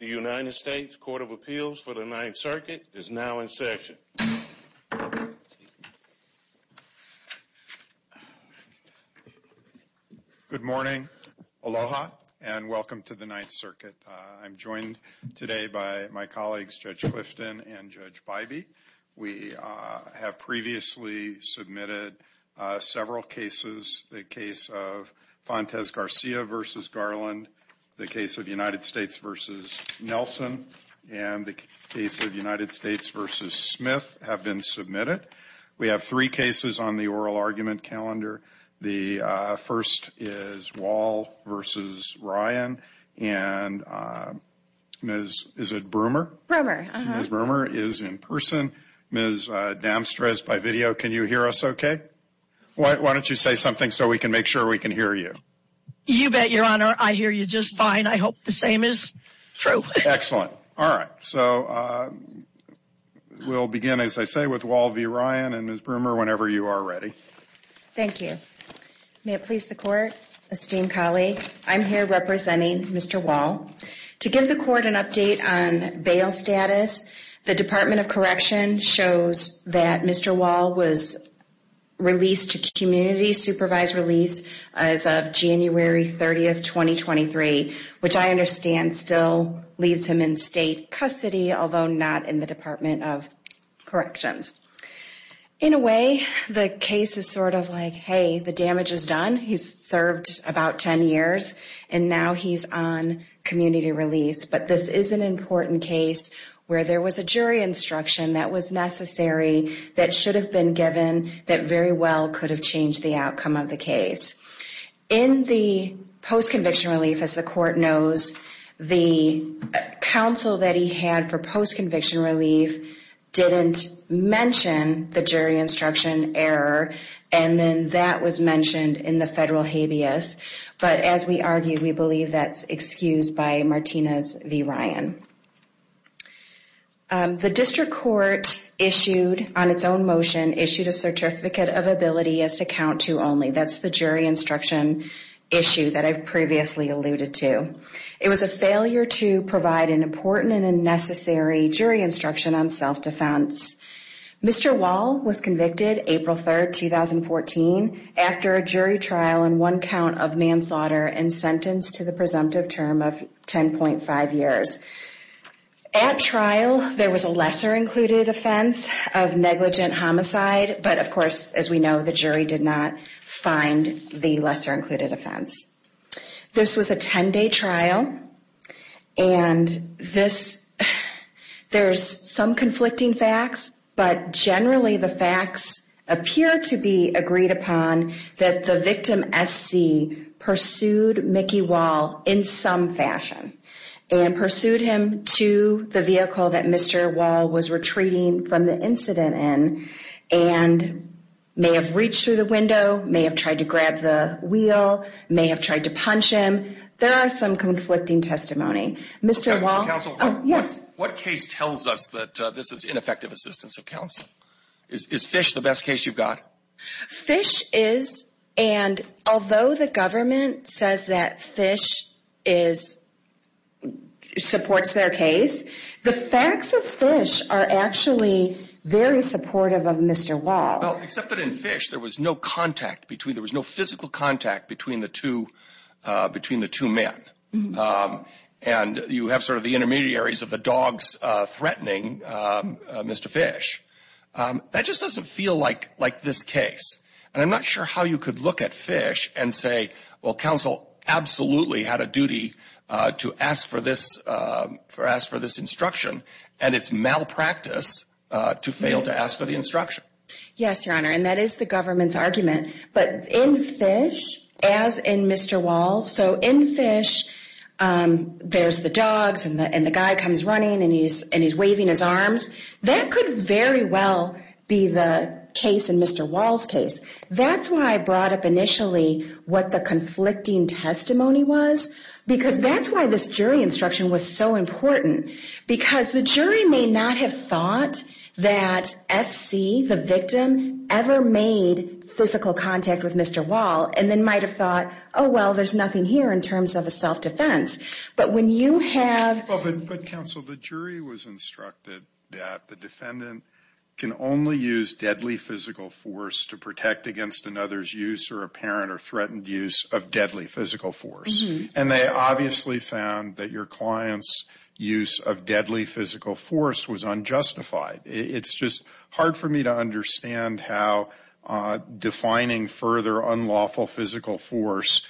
The United States Court of Appeals for the Ninth Circuit is now in session. Good morning, aloha, and welcome to the Ninth Circuit. I'm joined today by my colleagues Judge Clifton and Judge Bybee. We have previously submitted several cases. The case of Fontes Garcia v. Garland, the case of United States v. Nelson, and the case of United States v. Smith have been submitted. We have three cases on the oral argument calendar. The first is Wahl v. Ryan, and Ms. Broomer is in person. Ms. Damstres by video, can you hear us okay? Why don't you say something so we can make sure we can hear you? You bet, Your Honor. I hear you just fine. I hope the same is true. Excellent. All right. So we'll begin, as I say, with Wahl v. Ryan and Ms. Broomer whenever you are ready. Thank you. May it please the Court, esteemed colleague, I'm here representing Mr. Wahl. To give the Court an update on bail status, the Department of Corrections shows that Mr. Wahl was released to community supervised release as of January 30, 2023, which I understand still leaves him in state custody, although not in the Department of Corrections. In a way, the case is sort of like, hey, the damage is done. He's served about 10 years, and now he's on community release. But this is an important case where there was a jury instruction that was necessary, that should have been given, that very well could have changed the outcome of the case. In the post-conviction relief, as the Court knows, the counsel that he had for post-conviction relief didn't mention the jury instruction error, and then that was mentioned in the federal habeas. But as we argued, we believe that's excused by Martinez v. Ryan. The district court issued, on its own motion, issued a certificate of ability as to count to only. That's the jury instruction issue that I've previously alluded to. It was a failure to provide an important and a necessary jury instruction on self-defense. Mr. Wahl was convicted April 3, 2014, after a jury trial and one count of manslaughter and sentenced to the presumptive term of 10.5 years. At trial, there was a lesser-included offense of negligent homicide, but of course, as we know, the jury did not find the lesser-included offense. This was a 10-day trial, and there's some conflicting facts, but generally the facts appear to be agreed upon that the victim, S.C., and pursued him to the vehicle that Mr. Wahl was retreating from the incident in and may have reached through the window, may have tried to grab the wheel, may have tried to punch him. There are some conflicting testimony. Mr. Wahl. Counsel. Yes. What case tells us that this is ineffective assistance of counsel? Is Fish the best case you've got? Fish is, and although the government says that Fish supports their case, the facts of Fish are actually very supportive of Mr. Wahl. Well, except that in Fish, there was no physical contact between the two men, and you have sort of the intermediaries of the dogs threatening Mr. Fish. That just doesn't feel like this case, and I'm not sure how you could look at Fish and say, well, counsel absolutely had a duty to ask for this instruction, and it's malpractice to fail to ask for the instruction. Yes, Your Honor, and that is the government's argument, but in Fish, as in Mr. Wahl, so in Fish, there's the dogs and the guy comes running and he's waving his arms. That could very well be the case in Mr. Wahl's case. That's why I brought up initially what the conflicting testimony was because that's why this jury instruction was so important because the jury may not have thought that F.C., the victim, ever made physical contact with Mr. Wahl and then might have thought, oh, well, there's nothing here in terms of a self-defense, but when you have... But counsel, the jury was instructed that the defendant can only use deadly physical force to protect against another's use or apparent or threatened use of deadly physical force, and they obviously found that your client's use of deadly physical force was unjustified. It's just hard for me to understand how defining further unlawful physical force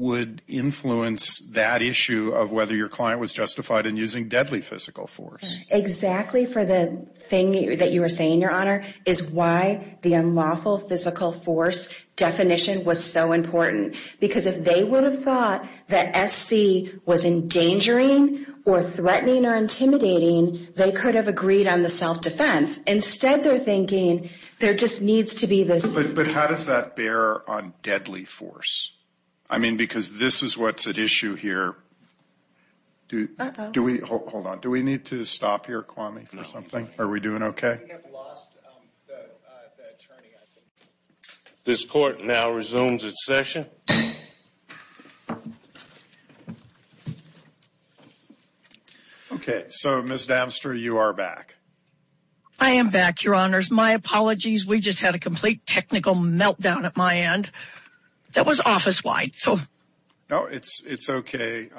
would influence that issue of whether your client was justified in using deadly physical force. Exactly for the thing that you were saying, Your Honor, is why the unlawful physical force definition was so important because if they would have thought that F.C. was endangering or threatening or intimidating, they could have agreed on the self-defense. Instead, they're thinking there just needs to be this... But how does that bear on deadly force? I mean, because this is what's at issue here. Uh-oh. Hold on. Do we need to stop here, Kwame, for something? Are we doing okay? We have lost the attorney, I think. This court now resumes its session. Okay. So, Ms. Damster, you are back. I am back, Your Honors. My apologies. We just had a complete technical meltdown at my end. That was office-wide, so... No, it's okay.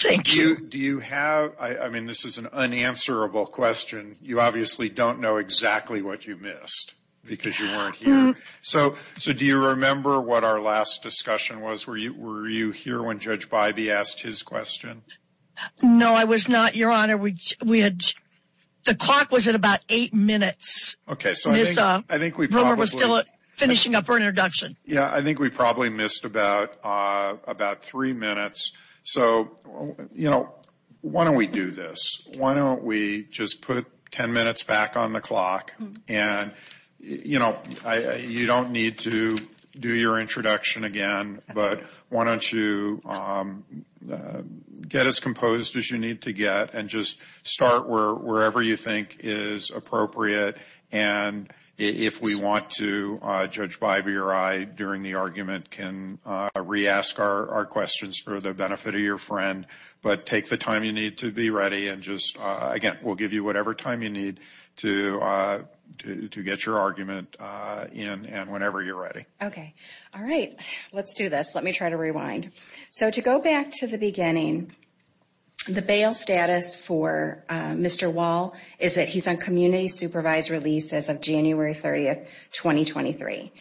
Thank you. Do you have... I mean, this is an unanswerable question. You obviously don't know exactly what you missed because you weren't here. So, do you remember what our last discussion was? Were you here when Judge Bybee asked his question? No, I was not, Your Honor. We had... The clock was at about eight minutes. Okay, so I think we probably... Rumor was still finishing up her introduction. Yeah, I think we probably missed about three minutes. So, you know, why don't we do this? Why don't we just put ten minutes back on the clock? And, you know, you don't need to do your introduction again, but why don't you get as composed as you need to get and just start wherever you think is appropriate. And if we want to, Judge Bybee or I, during the argument, can re-ask our questions for the benefit of your friend. But take the time you need to be ready and just... Again, we'll give you whatever time you need to get your argument in and whenever you're ready. Okay. All right. Let's do this. Let me try to rewind. So to go back to the beginning, the bail status for Mr. Wall is that he's on community supervised release as of January 30, 2023.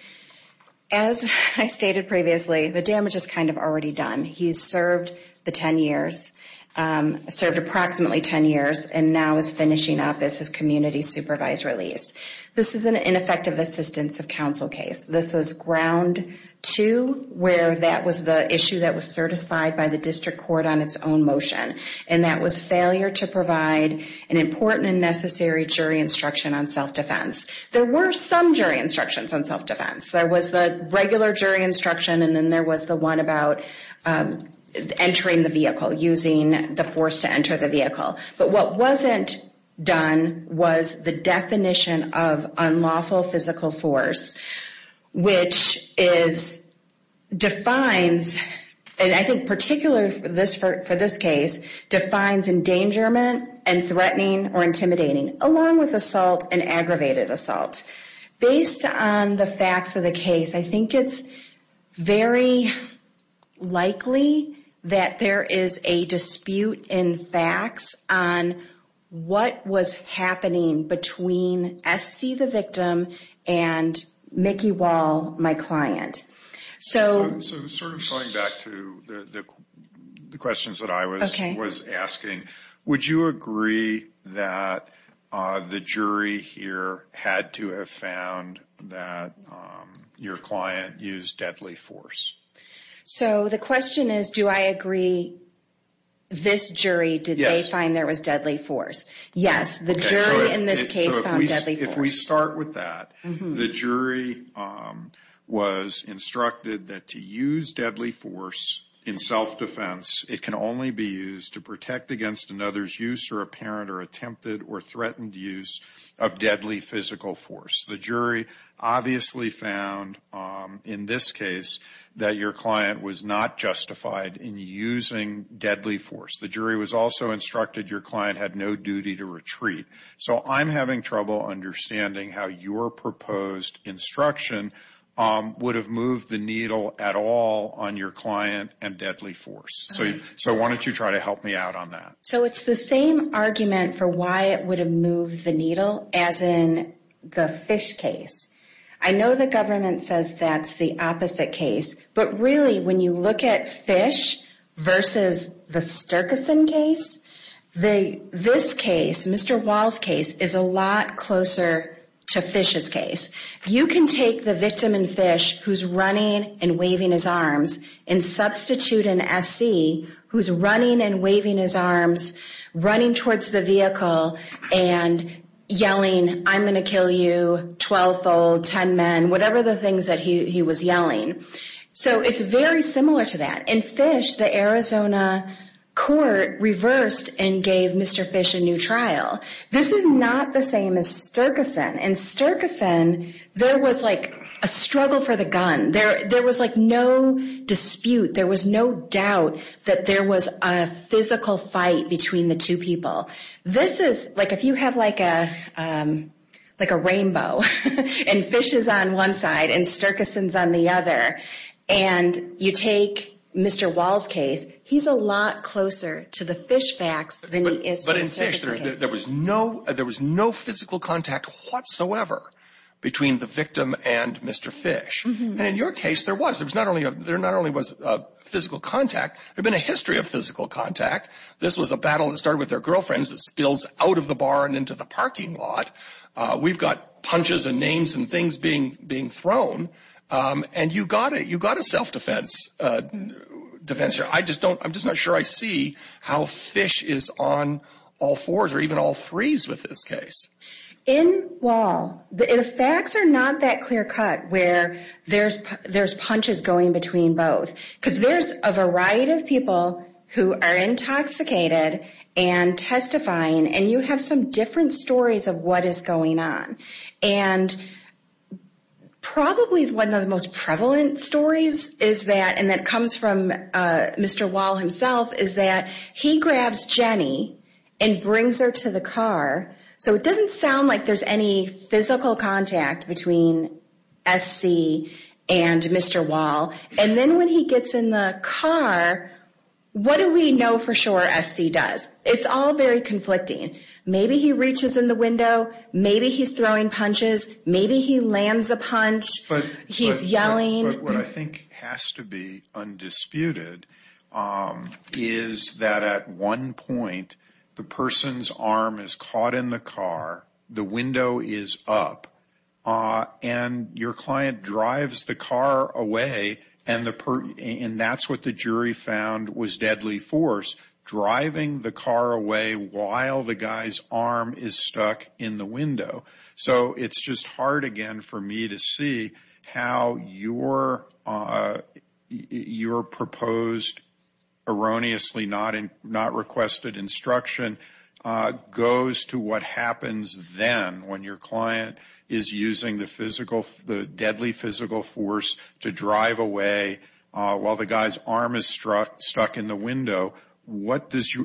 As I stated previously, the damage is kind of already done. He's served the ten years, served approximately ten years, and now is finishing up as his community supervised release. This is an ineffective assistance of counsel case. This was ground two where that was the issue that was certified by the district court on its own motion, and that was failure to provide an important and necessary jury instruction on self-defense. There were some jury instructions on self-defense. There was the regular jury instruction, and then there was the one about entering the vehicle, using the force to enter the vehicle. But what wasn't done was the definition of unlawful physical force, which defines, and I think particularly for this case, defines endangerment and threatening or intimidating, along with assault and aggravated assault. Based on the facts of the case, I think it's very likely that there is a dispute in facts on what was happening between S.C., the victim, and Mickey Wall, my client. So sort of going back to the questions that I was asking, would you agree that the jury here had to have found that your client used deadly force? So the question is, do I agree this jury did they find there was deadly force? Yes, the jury in this case found deadly force. If we start with that, the jury was instructed that to use deadly force in self-defense, it can only be used to protect against another's use or apparent or attempted or threatened use of deadly physical force. The jury obviously found in this case that your client was not justified in using deadly force. The jury was also instructed your client had no duty to retreat. So I'm having trouble understanding how your proposed instruction would have moved the needle at all on your client and deadly force. So why don't you try to help me out on that? So it's the same argument for why it would have moved the needle as in the Fish case. I know the government says that's the opposite case, but really when you look at Fish versus the Sturgeson case, this case, Mr. Wall's case, is a lot closer to Fish's case. You can take the victim in Fish who's running and waving his arms and substitute an SC who's running and waving his arms, running towards the vehicle, and yelling, I'm going to kill you, 12-fold, 10 men, whatever the things that he was yelling. So it's very similar to that. In Fish, the Arizona court reversed and gave Mr. Fish a new trial. This is not the same as Sturgeson. In Sturgeson, there was like a struggle for the gun. There was like no dispute. There was no doubt that there was a physical fight between the two people. This is like if you have like a rainbow and Fish is on one side and Sturgeson is on the other, and you take Mr. Wall's case, he's a lot closer to the Fish facts than he is to the Sturgeson case. There was no physical contact whatsoever between the victim and Mr. Fish. And in your case, there was. There not only was physical contact, there had been a history of physical contact. This was a battle that started with their girlfriends that spills out of the bar and into the parking lot. We've got punches and names and things being thrown. And you've got a self-defense here. I'm just not sure I see how Fish is on all fours or even all threes with this case. In Wall, the facts are not that clear cut where there's punches going between both because there's a variety of people who are intoxicated and testifying, and you have some different stories of what is going on. And probably one of the most prevalent stories is that, and that comes from Mr. Wall himself, is that he grabs Jenny and brings her to the car. So it doesn't sound like there's any physical contact between S.C. and Mr. Wall. And then when he gets in the car, what do we know for sure S.C. does? It's all very conflicting. Maybe he reaches in the window. Maybe he's throwing punches. Maybe he lands a punch. He's yelling. But what I think has to be undisputed is that at one point the person's arm is caught in the car, the window is up, and your client drives the car away, and that's what the jury found was deadly force, driving the car away while the guy's arm is stuck in the window. So it's just hard again for me to see how your proposed erroneously not requested instruction goes to what happens then when your client is using the deadly physical force to drive away while the guy's arm is stuck in the window.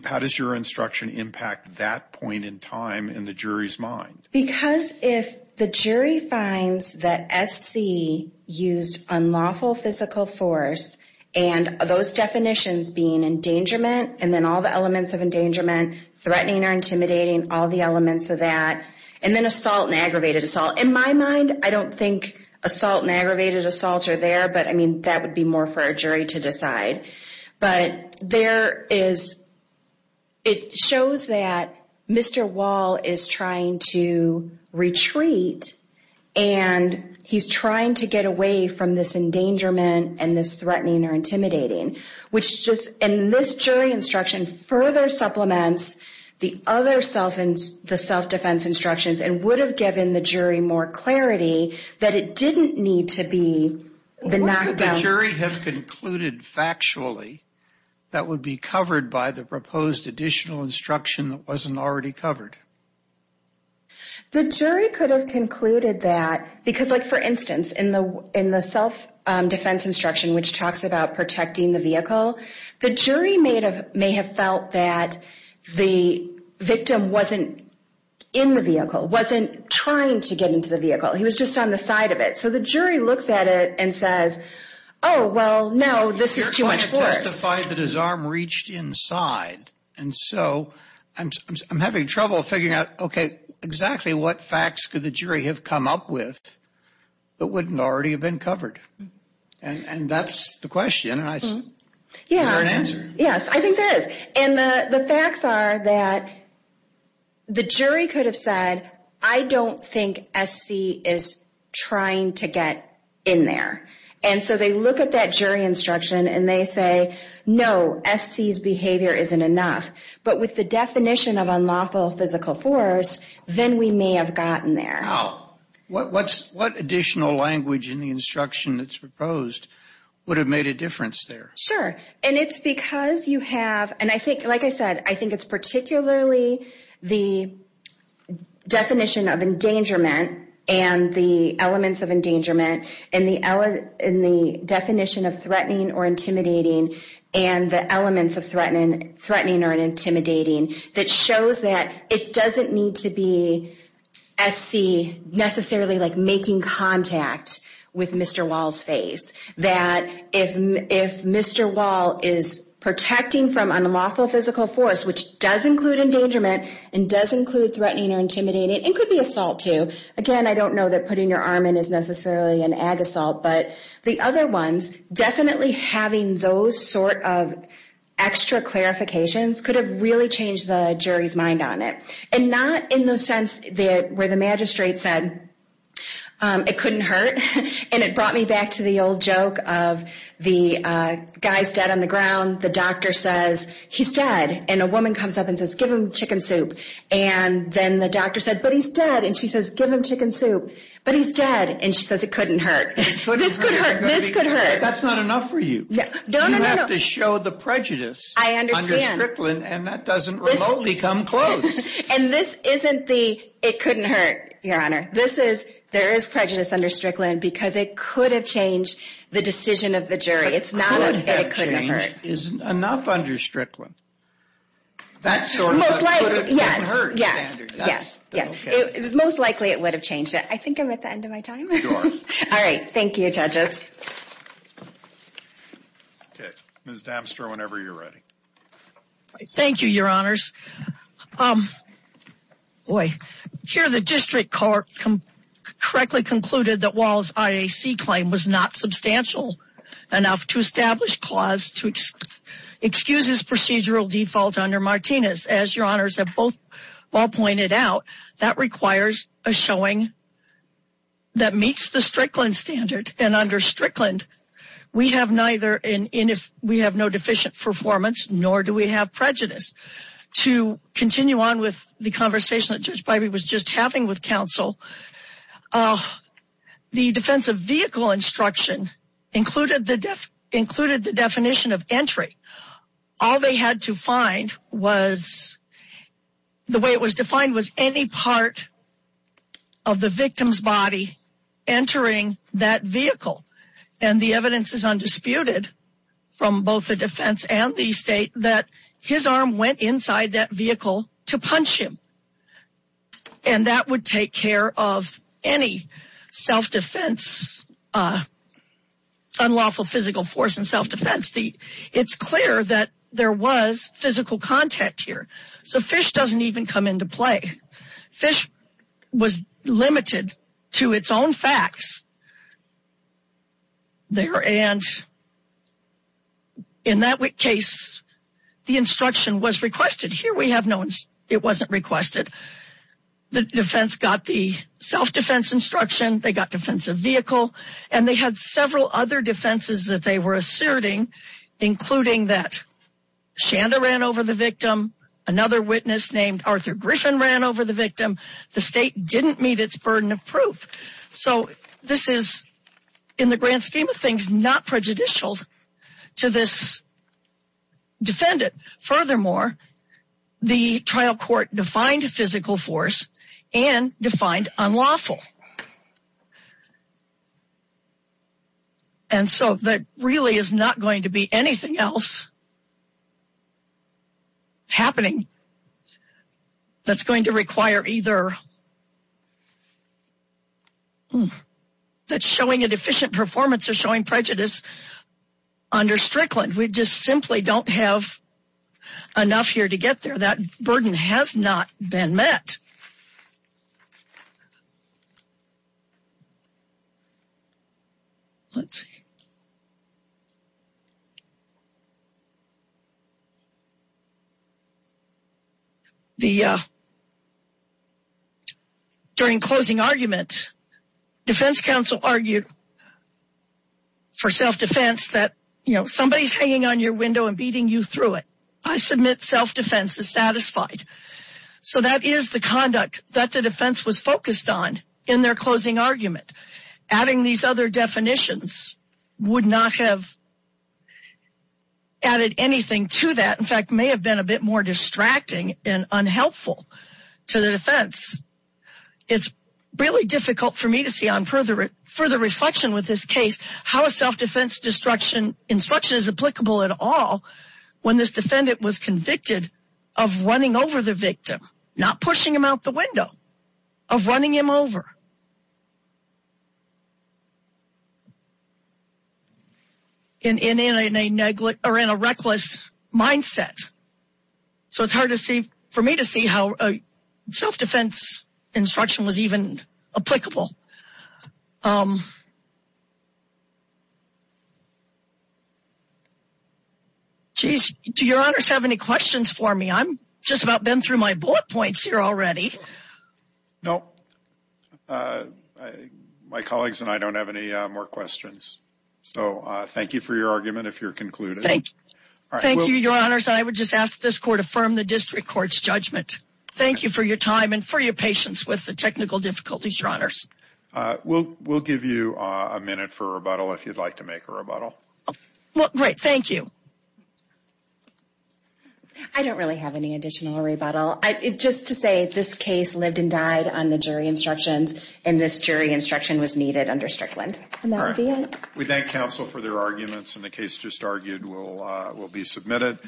How does your instruction impact that point in time in the jury's mind? Because if the jury finds that S.C. used unlawful physical force, and those definitions being endangerment and then all the elements of endangerment, threatening or intimidating, all the elements of that, and then assault and aggravated assault, in my mind I don't think assault and aggravated assault are there, but, I mean, that would be more for a jury to decide. But it shows that Mr. Wall is trying to retreat, and he's trying to get away from this endangerment and this threatening or intimidating, and this jury instruction further supplements the other self-defense instructions and would have given the jury more clarity that it didn't need to be the knockdown. What would the jury have concluded factually that would be covered by the proposed additional instruction that wasn't already covered? The jury could have concluded that, because, like, for instance, in the self-defense instruction, which talks about protecting the vehicle, the jury may have felt that the victim wasn't in the vehicle, wasn't trying to get into the vehicle. He was just on the side of it. So the jury looks at it and says, oh, well, no, this is too much force. You're trying to testify that his arm reached inside, and so I'm having trouble figuring out, okay, exactly what facts could the jury have come up with that wouldn't already have been covered? And that's the question. Is there an answer? Yes, I think there is. And the facts are that the jury could have said, I don't think SC is trying to get in there. And so they look at that jury instruction, and they say, no, SC's behavior isn't enough. But with the definition of unlawful physical force, then we may have gotten there. Wow. What additional language in the instruction that's proposed would have made a difference there? Sure. And it's because you have, and I think, like I said, I think it's particularly the definition of endangerment and the elements of endangerment and the definition of threatening or intimidating and the elements of threatening or intimidating that shows that it doesn't need to be SC necessarily making contact with Mr. Wall's face. That if Mr. Wall is protecting from unlawful physical force, which does include endangerment and does include threatening or intimidating, it could be assault too. Again, I don't know that putting your arm in is necessarily an ag assault, but the other ones, definitely having those sort of extra clarifications could have really changed the jury's mind on it. And not in the sense where the magistrate said, it couldn't hurt. And it brought me back to the old joke of the guy's dead on the ground, the doctor says, he's dead. And a woman comes up and says, give him chicken soup. And then the doctor said, but he's dead. And she says, give him chicken soup. But he's dead. And she says, it couldn't hurt. This could hurt. This could hurt. That's not enough for you. No, no, no, no. You have to show the prejudice under Strickland. I understand. And that doesn't remotely come close. And this isn't the, it couldn't hurt, Your Honor. This is, there is prejudice under Strickland because it could have changed the decision of the jury. It's not that it couldn't hurt. It could have changed. Isn't enough under Strickland. That's sort of the could have hurt standard. Yes, yes. It's most likely it would have changed it. I think I'm at the end of my time. Sure. All right. Thank you, judges. Okay. Ms. Damster, whenever you're ready. Thank you, Your Honors. Boy. Here the district court correctly concluded that Wall's IAC claim was not substantial enough to establish clause to excuse his procedural default under Martinez. As Your Honors have both well pointed out, that requires a showing that meets the Strickland standard. And under Strickland, we have neither, we have no deficient performance, nor do we have prejudice. To continue on with the conversation that Judge Bybee was just having with counsel, the defense of vehicle instruction included the definition of entry. All they had to find was the way it was defined was any part of the victim's body entering that vehicle. And the evidence is undisputed from both the defense and the state that his arm went inside that vehicle to punch him. And that would take care of any self-defense, unlawful physical force and self-defense. It's clear that there was physical contact here. So FISH doesn't even come into play. FISH was limited to its own facts. And in that case, the instruction was requested. Here we have no, it wasn't requested. The defense got the self-defense instruction. They got defensive vehicle. And they had several other defenses that they were asserting, including that Shanda ran over the victim. Another witness named Arthur Griffin ran over the victim. The state didn't meet its burden of proof. So this is, in the grand scheme of things, not prejudicial to this defendant. Furthermore, the trial court defined physical force and defined unlawful. And so that really is not going to be anything else happening that's going to require either showing an efficient performance or showing prejudice under Strickland. We just simply don't have enough here to get there. That burden has not been met. Let's see. The, during closing argument, defense counsel argued for self-defense that, you know, somebody's hanging on your window and beating you through it. I submit self-defense is satisfied. So that is the conduct that the defense was focused on in their closing argument. Adding these other definitions would not have added anything to that. In fact, may have been a bit more distracting and unhelpful to the defense. It's really difficult for me to see on further reflection with this case how a self-defense instruction is applicable at all when this defendant was convicted of running over the victim, not pushing him out the window, of running him over. And in a reckless mindset. So it's hard to see for me to see how a self-defense instruction was even applicable. Do your honors have any questions for me? I'm just about been through my bullet points here already. No, my colleagues and I don't have any more questions. So thank you for your argument. Thank you, your honors. I would just ask this court to affirm the district court's judgment. Thank you for your time and for your patience with the technical difficulties, your honors. We'll give you a minute for rebuttal if you'd like to make a rebuttal. Great. Thank you. I don't really have any additional rebuttal. Just to say this case lived and died on the jury instructions and this jury instruction was needed under Strickland. And that would be it. We thank counsel for their arguments and the case just argued will be submitted.